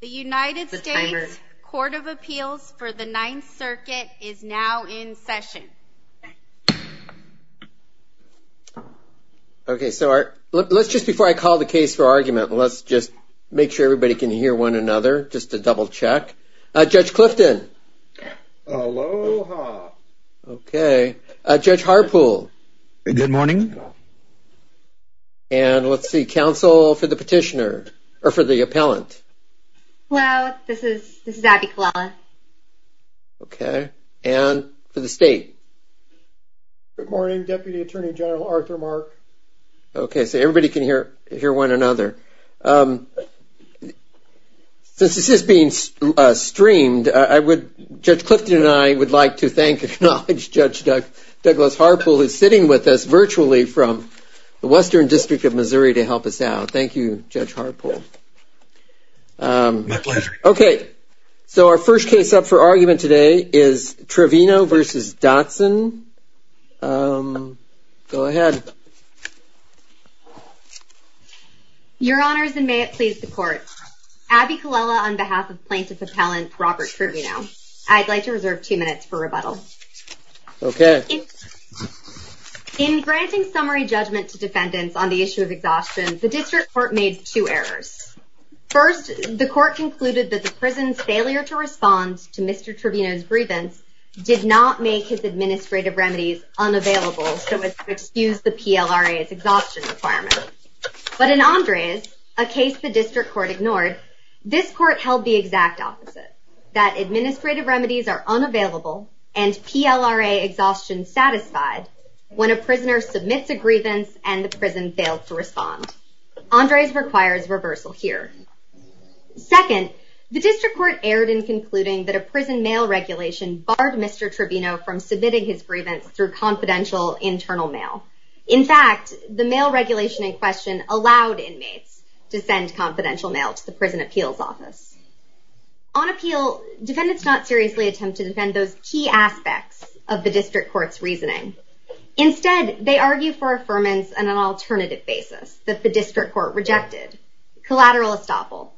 The United States Court of Appeals for the Ninth Circuit is now in session. Okay, so let's just before I call the case for argument, let's just make sure everybody can hear one another just to double check. Judge Clifton. Aloha. Okay. Judge Harpool. Good morning. And let's see, counsel for the petitioner, or for the appellant. Hello, this is Abby Kalala. Okay, and for the state. Good morning, Deputy Attorney General Arthur Mark. Okay, so everybody can hear one another. Since this is being streamed, Judge Clifton and I would like to thank and acknowledge Judge Douglas Harpool who's sitting with us virtually from the Western District of Missouri to help us out. Thank you, Judge Harpool. My pleasure. Okay, so our first case up for argument today is Trevino v. Dotson. Go ahead. Your Honors, and may it please the Court. Abby Kalala on behalf of Plaintiff Appellant Robert Trevino. I'd like to reserve two minutes for rebuttal. Okay. In granting summary judgment to defendants on the issue of exhaustion, the district court made two errors. First, the court concluded that the prison's failure to respond to Mr. Trevino's grievance did not make his administrative remedies unavailable so as to excuse the PLRA's exhaustion requirement. But in Andres, a case the district court ignored, this court held the exact opposite, that administrative remedies are unavailable and PLRA exhaustion satisfied when a prisoner submits a grievance and the prison failed to respond. Andres requires reversal here. Second, the district court erred in concluding that a prison mail regulation barred Mr. Trevino from submitting his grievance through confidential internal mail. In fact, the mail regulation in question allowed inmates to send confidential mail to the Prison Appeals Office. On appeal, defendants not seriously attempt to defend those key aspects of the district court's reasoning. Instead, they argue for affirmance on an alternative basis that the district court rejected, collateral estoppel.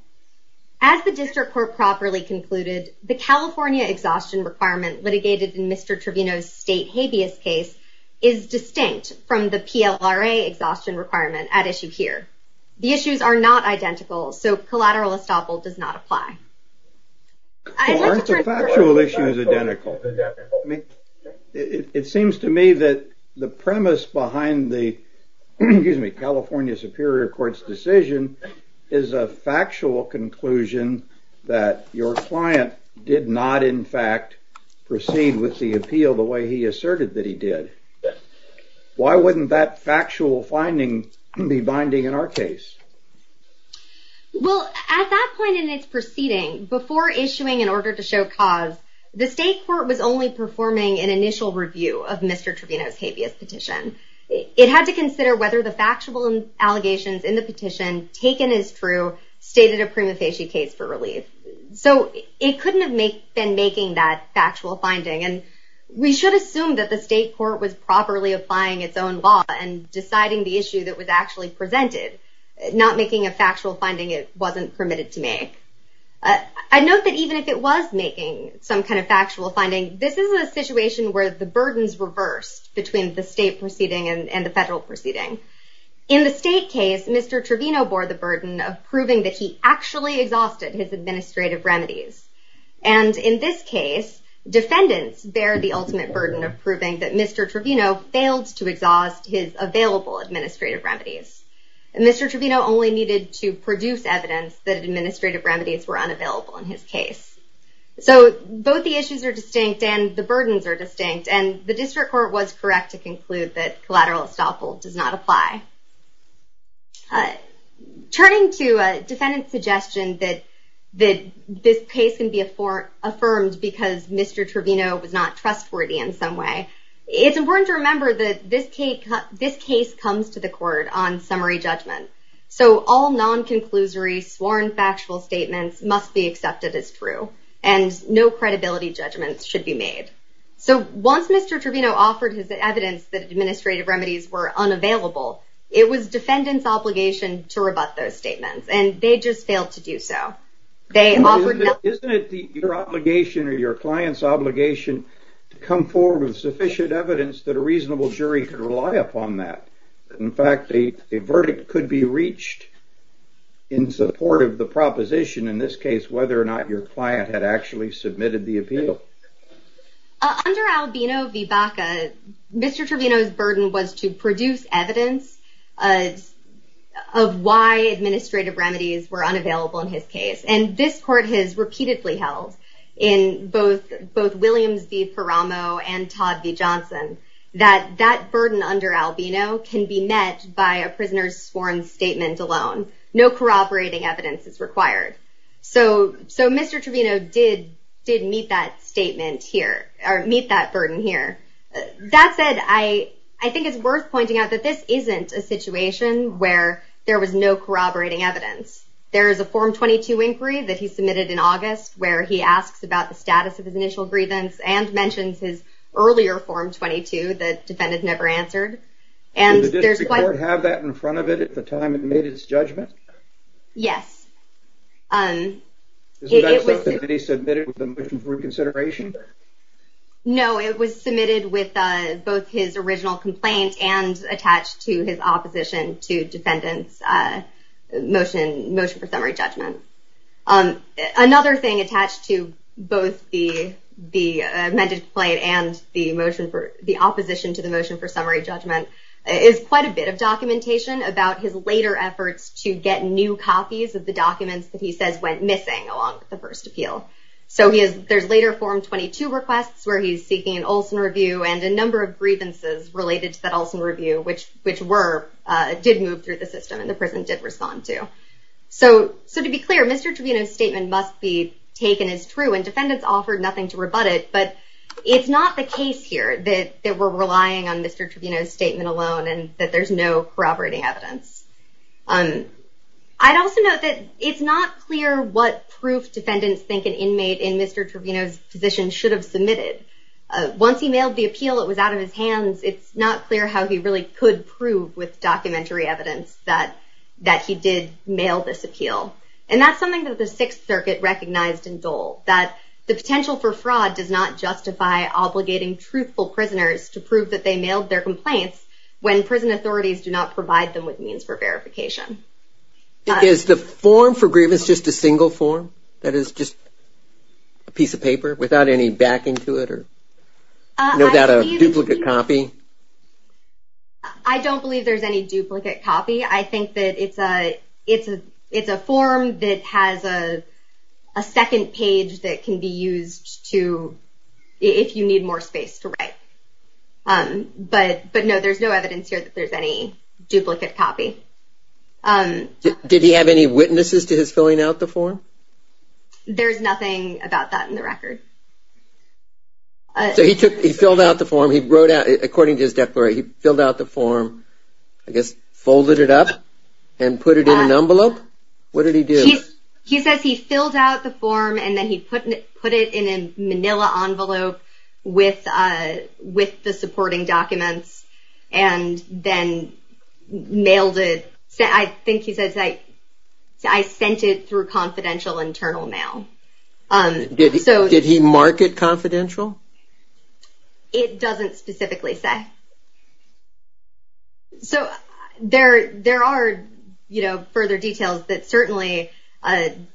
As the district court properly concluded, the California exhaustion requirement litigated in Mr. Trevino's state habeas case is distinct from the PLRA exhaustion requirement at issue here. The issues are not identical, so collateral estoppel does not apply. Aren't the factual issues identical? It seems to me that the premise behind the California Superior Court's decision is a factual conclusion that your client did not, in fact, proceed with the appeal the way he asserted that he did. Why wouldn't that factual finding be binding in our case? Well, at that point in its proceeding, before issuing an order to show cause, the state court was only performing an initial review of Mr. Trevino's habeas petition. It had to consider whether the factual allegations in the petition, taken as true, stated a prima facie case for relief. So it couldn't have been making that factual finding. And we should assume that the state court was properly applying its own law and deciding the issue that was actually presented. Not making a factual finding it wasn't permitted to make. I note that even if it was making some kind of factual finding, this is a situation where the burden is reversed between the state proceeding and the federal proceeding. In the state case, Mr. Trevino bore the burden of proving that he actually exhausted his administrative remedies. And in this case, defendants bear the ultimate burden of proving that Mr. Trevino failed to exhaust his available administrative remedies. Mr. Trevino only needed to produce evidence that administrative remedies were unavailable in his case. So both the issues are distinct and the burdens are distinct. And the district court was correct to conclude that collateral estoppel does not apply. Turning to a defendant's suggestion that this case can be affirmed because Mr. Trevino was not trustworthy in some way, it's important to remember that this case comes to the court on summary judgment. So all non-conclusory sworn factual statements must be accepted as true. And no credibility judgments should be made. So once Mr. Trevino offered his evidence that administrative remedies were unavailable, it was defendant's obligation to rebut those statements. And they just failed to do so. Isn't it your obligation or your client's obligation to come forward with sufficient evidence that a reasonable jury can rely upon that? In fact, a verdict could be reached in support of the proposition, in this case, whether or not your client had actually submitted the appeal. Under Albino v. Baca, Mr. Trevino's burden was to produce evidence of why administrative remedies were unavailable in his case. And this court has repeatedly held in both Williams v. Paramo and Todd v. Johnson that that burden under Albino can be met by a prisoner's sworn statement alone. No corroborating evidence is required. So Mr. Trevino did meet that statement here, or meet that burden here. That said, I think it's worth pointing out that this isn't a situation where there was no corroborating evidence. where he asks about the status of his initial grievance and mentions his earlier Form 22 that the defendant never answered. Did the district court have that in front of it at the time it made its judgment? Yes. Is that something that he submitted with a motion for reconsideration? No, it was submitted with both his original complaint and attached to his opposition to defendant's motion for summary judgment. Another thing attached to both the amended complaint and the opposition to the motion for summary judgment is quite a bit of documentation about his later efforts to get new copies of the documents that he says went missing along the first appeal. So there's later Form 22 requests where he's seeking an Olson review and a number of grievances related to that Olson review, which did move through the system and the prison did respond to. So to be clear, Mr. Trevino's statement must be taken as true and defendants offered nothing to rebut it, but it's not the case here that we're relying on Mr. Trevino's statement alone and that there's no corroborating evidence. I'd also note that it's not clear what proof defendants think an inmate in Mr. Trevino's position should have submitted. Once he mailed the appeal, it was out of his hands. It's not clear how he really could prove with documentary evidence that he did mail this appeal. And that's something that the Sixth Circuit recognized in Dole, that the potential for fraud does not justify obligating truthful prisoners to prove that they mailed their complaints when prison authorities do not provide them with means for verification. Is the form for grievance just a single form? That is just a piece of paper without any backing to it? Is that a duplicate copy? I don't believe there's any duplicate copy. I think that it's a form that has a second page that can be used if you need more space to write. But no, there's no evidence here that there's any duplicate copy. Did he have any witnesses to his filling out the form? There's nothing about that in the record. So he filled out the form. According to his declaration, he filled out the form, I guess folded it up and put it in an envelope? What did he do? He says he filled out the form and then he put it in a manila envelope with the supporting documents and then mailed it. I think he says, I sent it through confidential internal mail. Did he mark it confidential? It doesn't specifically say. So there are further details that certainly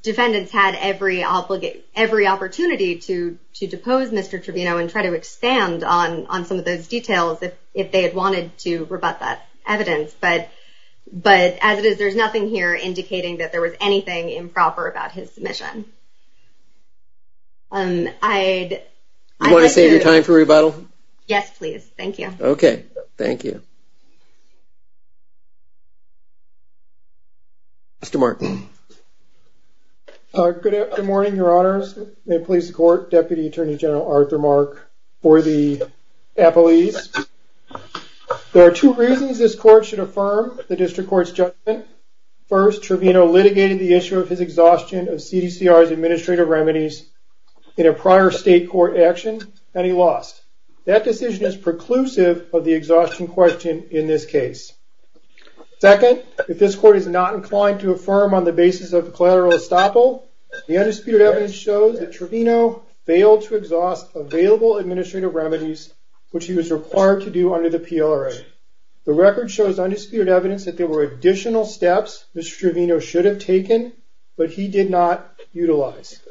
defendants had every opportunity to depose Mr. Trevino and try to expand on some of those details if they had wanted to rebut that evidence. But as it is, there's nothing here indicating that there was anything improper about his submission. Do you want to save your time for rebuttal? Yes, please. Thank you. Okay. Thank you. Mr. Mark. Good morning, Your Honors. May it please the Court, Deputy Attorney General Arthur Mark for the appellees. There are two reasons this Court should affirm the District Court's judgment. First, Trevino litigated the issue of his exhaustion of CDCR's administrative remedies in a prior state court action, and he lost. That decision is preclusive of the exhaustion question in this case. Second, if this Court is not inclined to affirm on the basis of collateral estoppel, the undisputed evidence shows that Trevino failed to exhaust available administrative remedies, which he was required to do under the PLRA. Third, the record shows undisputed evidence that there were additional steps Mr. Trevino should have taken, but he did not utilize.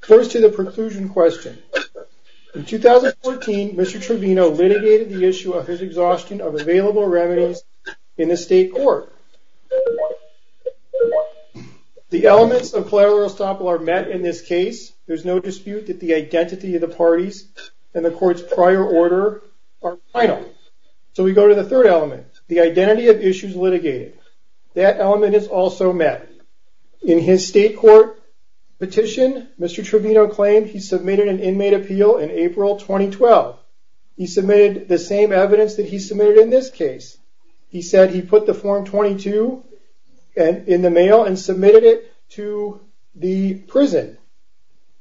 First to the preclusion question. In 2014, Mr. Trevino litigated the issue of his exhaustion of available remedies in the state court. The elements of collateral estoppel are met in this case. There's no dispute that the identity of the parties and the Court's prior order are final. So we go to the third element, the identity of issues litigated. That element is also met. In his state court petition, Mr. Trevino claimed he submitted an inmate appeal in April 2012. He submitted the same evidence that he submitted in this case. He said he put the Form 22 in the mail and submitted it to the prison.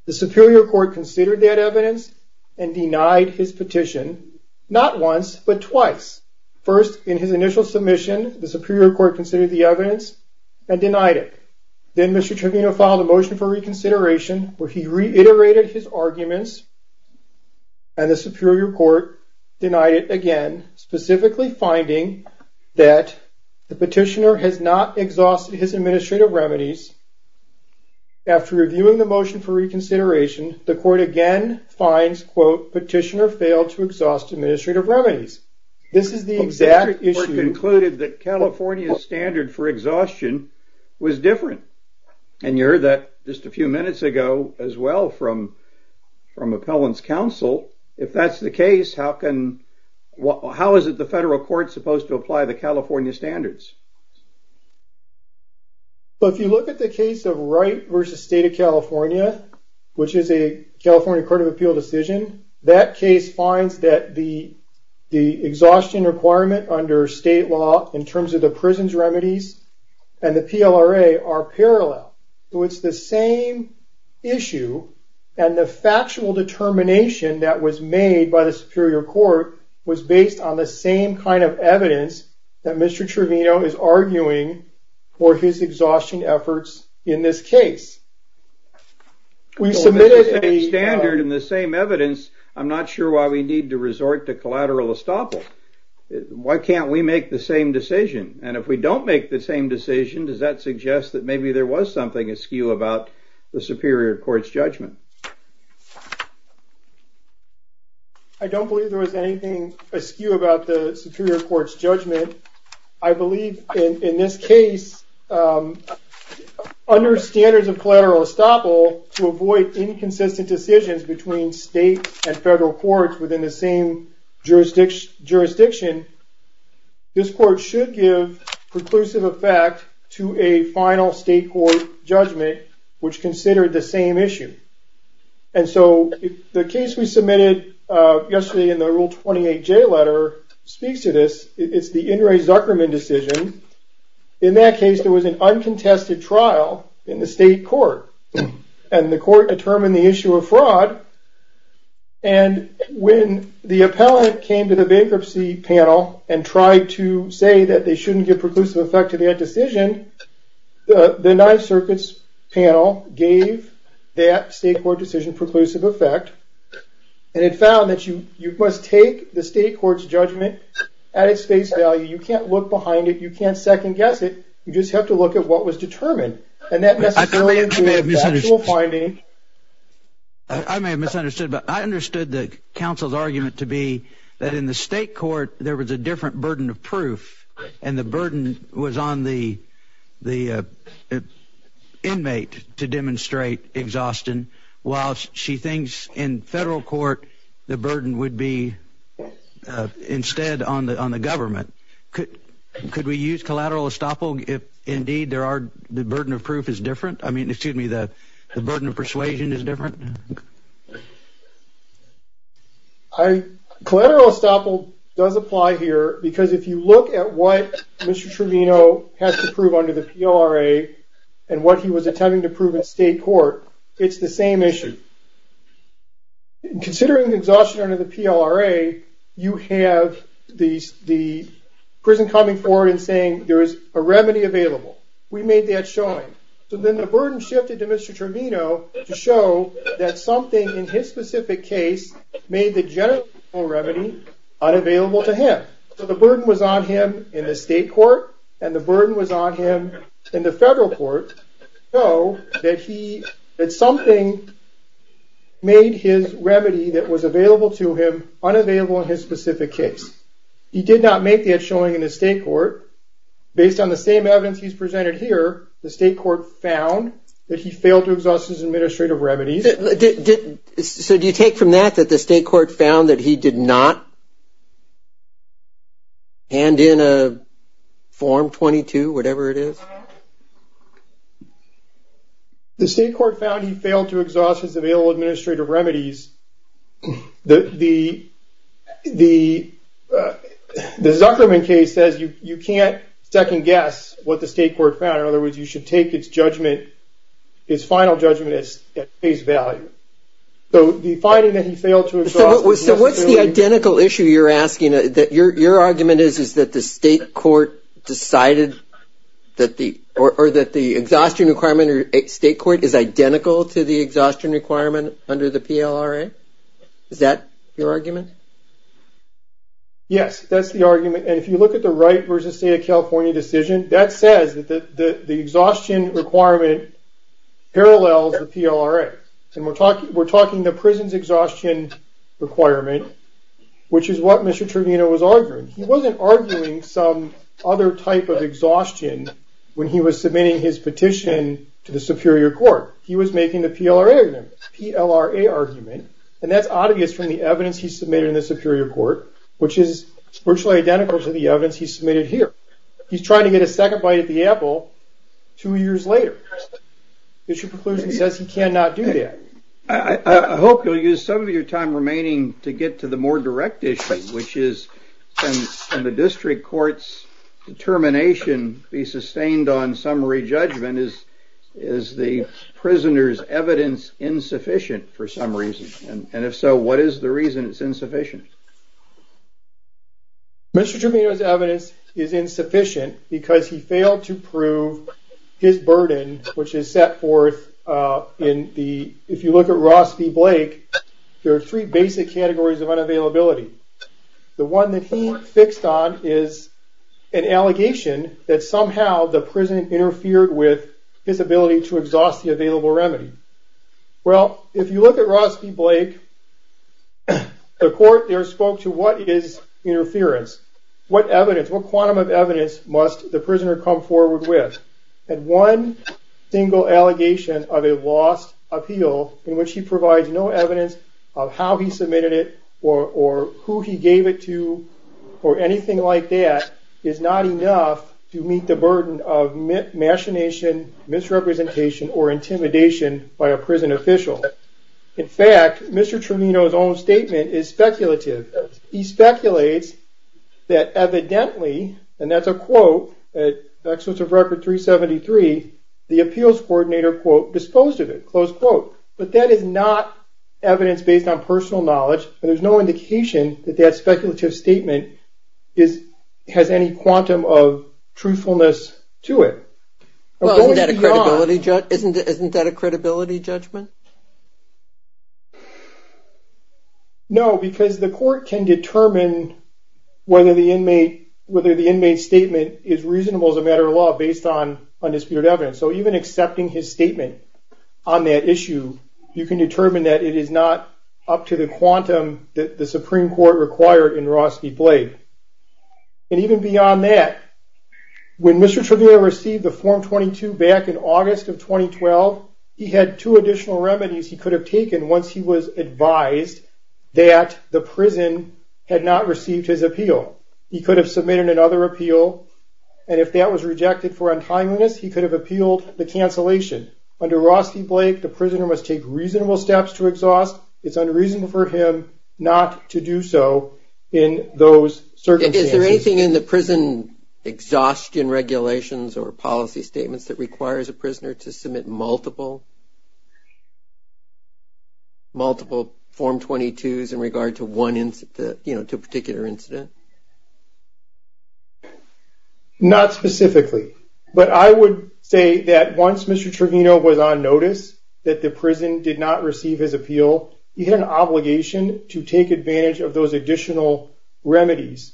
The Superior Court considered that evidence and denied his petition, not once but twice. First, in his initial submission, the Superior Court considered the evidence and denied it. Then Mr. Trevino filed a motion for reconsideration where he reiterated his arguments and the Superior Court denied it again, specifically finding that the motion for reconsideration, the Court again finds, quote, petitioner failed to exhaust administrative remedies. This is the exact issue. The Superior Court concluded that California's standard for exhaustion was different, and you heard that just a few minutes ago as well from Appellant's Counsel. If that's the case, how is it the federal court supposed to apply the California standards? If you look at the case of Wright v. State of California, which is a California Court of Appeal decision, that case finds that the exhaustion requirement under state law in terms of the prison's remedies and the PLRA are parallel. It's the same issue, and the factual determination that was made by the Superior Court was based on the same kind of evidence that Mr. Trevino had and that Mr. Trevino is arguing for his exhaustion efforts in this case. We submitted a standard in the same evidence. I'm not sure why we need to resort to collateral estoppel. Why can't we make the same decision? And if we don't make the same decision, does that suggest that maybe there was something askew about the Superior Court's judgment? I don't believe there was anything askew about the Superior Court's judgment. I believe in this case, under standards of collateral estoppel, to avoid inconsistent decisions between state and federal courts within the same jurisdiction, this court should give preclusive effect to a final state court judgment, which considered the same issue. And so the case we submitted yesterday in the Rule 28J letter speaks to this. It's the In re Zuckerman decision. In that case, there was an uncontested trial in the state court, and the court determined the issue of fraud, and when the appellant came to the bankruptcy panel and tried to say that they shouldn't give preclusive effect to that decision, the Ninth Circuit's panel gave that state court decision preclusive effect, and it found that you must take the state court's judgment at its face value. You can't look behind it. You can't second-guess it. You just have to look at what was determined. I may have misunderstood, but I understood the counsel's argument to be that in the state court, there was a different burden of proof, and the burden was on the inmate to demonstrate exhaustion, while she thinks in federal court, the burden would be instead on the government. Could we use collateral estoppel if, indeed, the burden of proof is different? I mean, excuse me, the burden of persuasion is different? Collateral estoppel does apply here because if you look at what Mr. Tremino has to prove under the PLRA and what he was attempting to prove in state court, it's the same issue. Considering exhaustion under the PLRA, you have the prison coming forward and saying there is a remedy available. We made that showing. So then the burden shifted to Mr. Tremino to show that something in his specific case made the general remedy unavailable to him. So the burden was on him in the state court, and the burden was on him in the federal court to show that something made his remedy that was available to him unavailable in his specific case. He did not make that showing in the state court. Based on the same evidence he's presented here, the state court found that he failed to exhaust his administrative remedies. So do you take from that that the state court found that he did not hand in a Form 22, whatever it is? The state court found he failed to exhaust his available administrative remedies. The Zuckerman case says you can't second guess what the state court found. In other words, you should take his judgment, his final judgment at face value. So the finding that he failed to exhaust his administrative remedies. So what's the identical issue you're asking? Your argument is that the state court decided that the exhaustion requirement under state court is identical to the exhaustion requirement under the PLRA? Is that your argument? Yes, that's the argument. And if you look at the Wright versus State of California decision, that says that the exhaustion requirement parallels the PLRA. And we're talking the prison's exhaustion requirement, which is what Mr. Trevino was arguing. He wasn't arguing some other type of exhaustion when he was submitting his argument to the superior court. He was making the PLRA argument, and that's obvious from the evidence he submitted in the superior court, which is virtually identical to the evidence he submitted here. He's trying to get a second bite at the apple two years later. The issue of preclusion says he cannot do that. I hope you'll use some of your time remaining to get to the more direct issue, which is can the district court's determination be sustained on summary judgment? Is the prisoner's evidence insufficient for some reason? And if so, what is the reason it's insufficient? Mr. Trevino's evidence is insufficient because he failed to prove his burden, which is set forth in the, if you look at Ross v. Blake, there are three basic categories of unavailability. The one that he fixed on is an allegation that somehow the prison interfered with his ability to exhaust the available remedy. Well, if you look at Ross v. Blake, the court there spoke to what is interference, what evidence, what quantum of evidence must the prisoner come forward with? And one single allegation of a lost appeal in which he provides no evidence of how he submitted it or who he gave it to or anything like that is not enough to meet the burden of machination, misrepresentation, or intimidation by a prison official. In fact, Mr. Trevino's own statement is speculative. He speculates that evidently, and that's a quote, at the expense of record 373, the appeals coordinator, quote, disposed of it, close quote. But that is not evidence based on personal knowledge, and there's no indication that that speculative statement has any quantum of truthfulness to it. Well, isn't that a credibility judgment? No, because the court can determine whether the inmate's statement is reasonable as a matter of law based on undisputed evidence. So even accepting his statement on that issue, you can determine that it is not up to the quantum that the Supreme Court required in Ross v. Blake. And even beyond that, when Mr. Trevino received the Form 22 back in August of 2012, he had two additional remedies he could have taken once he was advised that the prison had not received his appeal. He could have submitted another appeal, and if that was rejected for untimeliness, he could have appealed the cancellation. Under Ross v. Blake, the prisoner must take reasonable steps to exhaust. It's unreasonable for him not to do so in those circumstances. Is there anything in the prison exhaustion regulations or policy statements that requires a prisoner to submit multiple, multiple Form 22s in regard to one incident, you know, to a particular incident? Not specifically. But I would say that once Mr. Trevino was on notice that the prison did not receive his appeal, he had an obligation to take advantage of those additional remedies.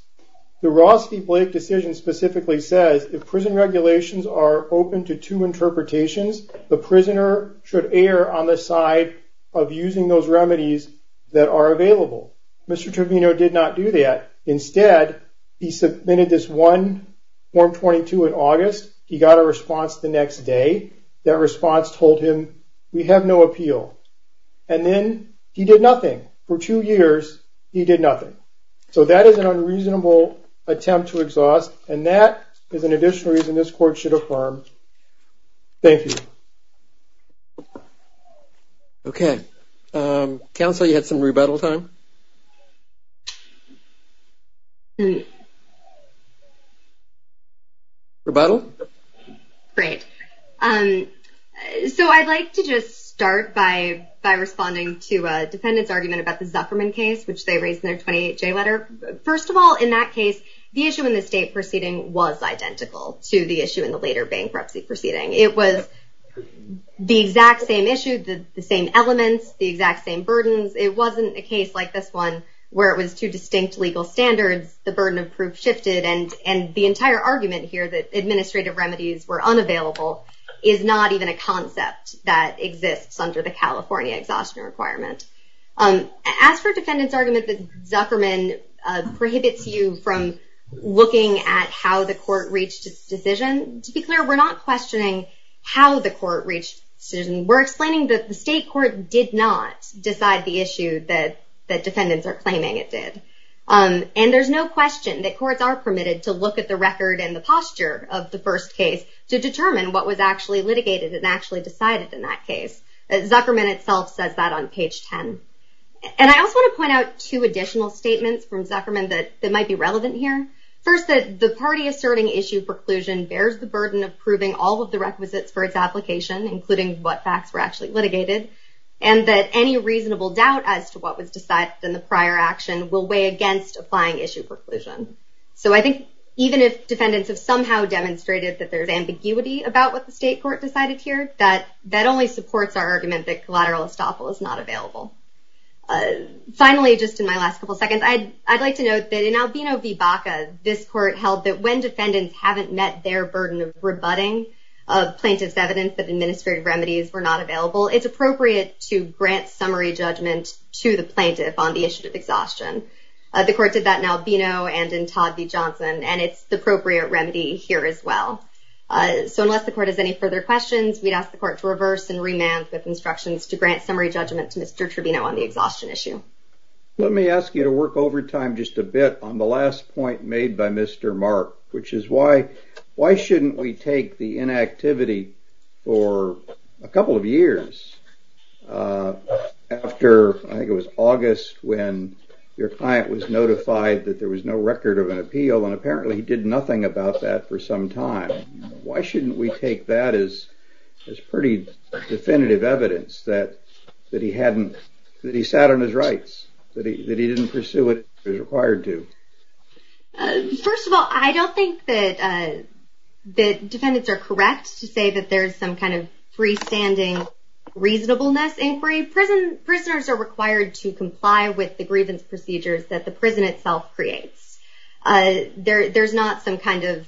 The Ross v. Blake decision specifically says, if prison regulations are open to two interpretations, the prisoner should err on the side of using those remedies that are available. Mr. Trevino did not do that. Instead, he submitted this one Form 22 in August. He got a response the next day. That response told him, we have no appeal. And then he did nothing. For two years, he did nothing. So that is an unreasonable attempt to exhaust, and that is an additional reason this court should affirm. Thank you. Okay. Counsel, you had some rebuttal time? Rebuttal? Great. So I'd like to just start by responding to a defendant's argument about the Zuckerman case, which they raised in their 28-J letter. First of all, in that case, the issue in the state proceeding was identical to the issue in the later bankruptcy proceeding. It was the exact same issue, the same elements, the exact same burdens. It wasn't a case like this one where it was two distinct legal standards, the burden of proof shifted, and the entire argument here that administrative remedies were unavailable is not even a concept that exists under the California exhaustion requirement. As for a defendant's argument that Zuckerman prohibits you from looking at how the court reached its decision, to be clear, we're not questioning how the court reached its decision. We're explaining that the state court did not decide the issue that defendants are claiming it did. And there's no question that courts are permitted to look at the record and the posture of the first case to determine what was actually litigated and actually decided in that case. Zuckerman itself says that on page 10. And I also want to point out two additional statements from Zuckerman that might be relevant here. First, that the party asserting issue preclusion bears the burden of proving all of the requisites for its application, including what facts were actually litigated, and that any reasonable doubt as to what was decided in the prior action will weigh against applying issue preclusion. So I think even if defendants have somehow demonstrated that there's ambiguity about what the state court decided here, that that only supports our argument that collateral estoppel is not available. Finally, just in my last couple seconds, I'd like to note that in Albino v. Baca, this court held that when defendants haven't met their burden of rebutting of plaintiff's evidence that administrative remedies were not available, it's appropriate to grant summary judgment to the plaintiff on the issue of exhaustion. The court did that in Albino and in Todd v. Johnson, and it's the appropriate remedy here as well. So unless the court has any further questions, we'd ask the court to reverse and remand with instructions to grant summary judgment to Mr. Trevino on the exhaustion issue. Let me ask you to work overtime just a bit on the last point made by Mr. Mark, which is why shouldn't we take the inactivity for a couple of years after, I think it was August, when your client was notified that there was no record of an appeal, and apparently he did nothing about that for some time. Why shouldn't we take that as pretty definitive evidence that he sat on his rights, that he didn't pursue what he was required to? First of all, I don't think that defendants are correct to say that there's some kind of freestanding reasonableness inquiry. Prisoners are required to comply with the grievance procedures that the prison itself creates. There's not some kind of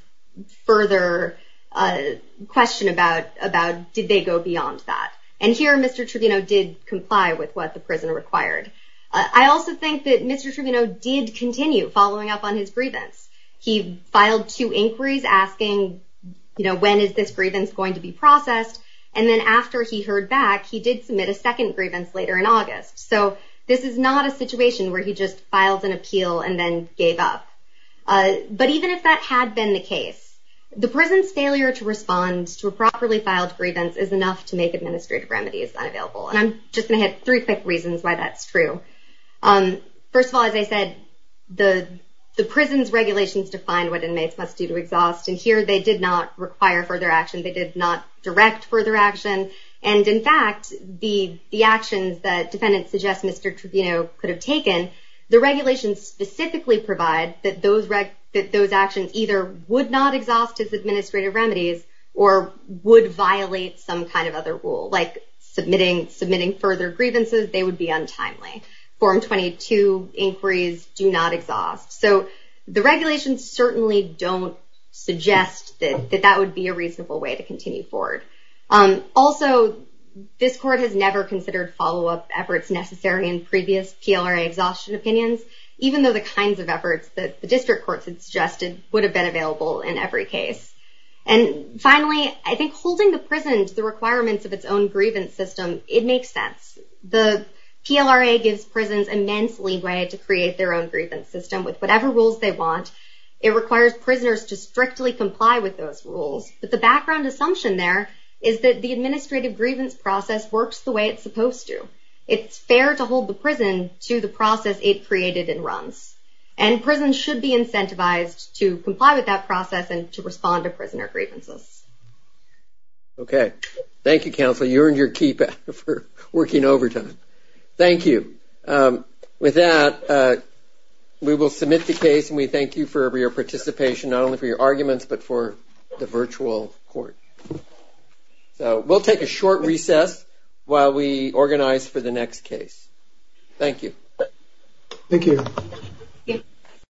further question about did they go beyond that. Here, Mr. Trevino did comply with what the prison required. I also think that Mr. Trevino did continue following up on his grievance. He filed two inquiries asking when is this grievance going to be processed, and then after he heard back, he did submit a second grievance later in August. This is not a situation where he just filed an appeal and then gave up. But even if that had been the case, the prison's failure to respond to a properly filed grievance is enough to make administrative remedies unavailable. I'm just going to hit three quick reasons why that's true. First of all, as I said, the prison's regulations define what inmates must do to exhaust, and here they did not require further action. They did not direct further action. In fact, the actions that defendants suggest Mr. Trevino could have taken, the regulations specifically provide that those actions either would not exhaust as administrative remedies or would violate some kind of other rule, like submitting further grievances, they would be untimely. Form 22 inquiries do not exhaust. So the regulations certainly don't suggest that that would be a reasonable way to continue forward. Also, this court has never considered follow-up efforts necessary in previous PLRA exhaustion opinions, even though the kinds of efforts that the district courts had suggested would have been available in every case. And finally, I think holding the prison to the requirements of its own grievance system, it makes sense. The PLRA gives prisons immense leeway to create their own grievance system with whatever rules they want. It requires prisoners to strictly comply with those rules. But the background assumption there is that the administrative grievance process works the way it's supposed to. It's fair to hold the prison to the process it created and runs. And prisons should be incentivized to comply with that process and to respond to prisoner grievances. Okay. Thank you, counsel. You earned your key back for working overtime. Thank you. With that, we will submit the case and we thank you for your participation, not only for your arguments, but for the virtual court. So we'll take a short recess while we organize for the next case. Thank you. Thank you.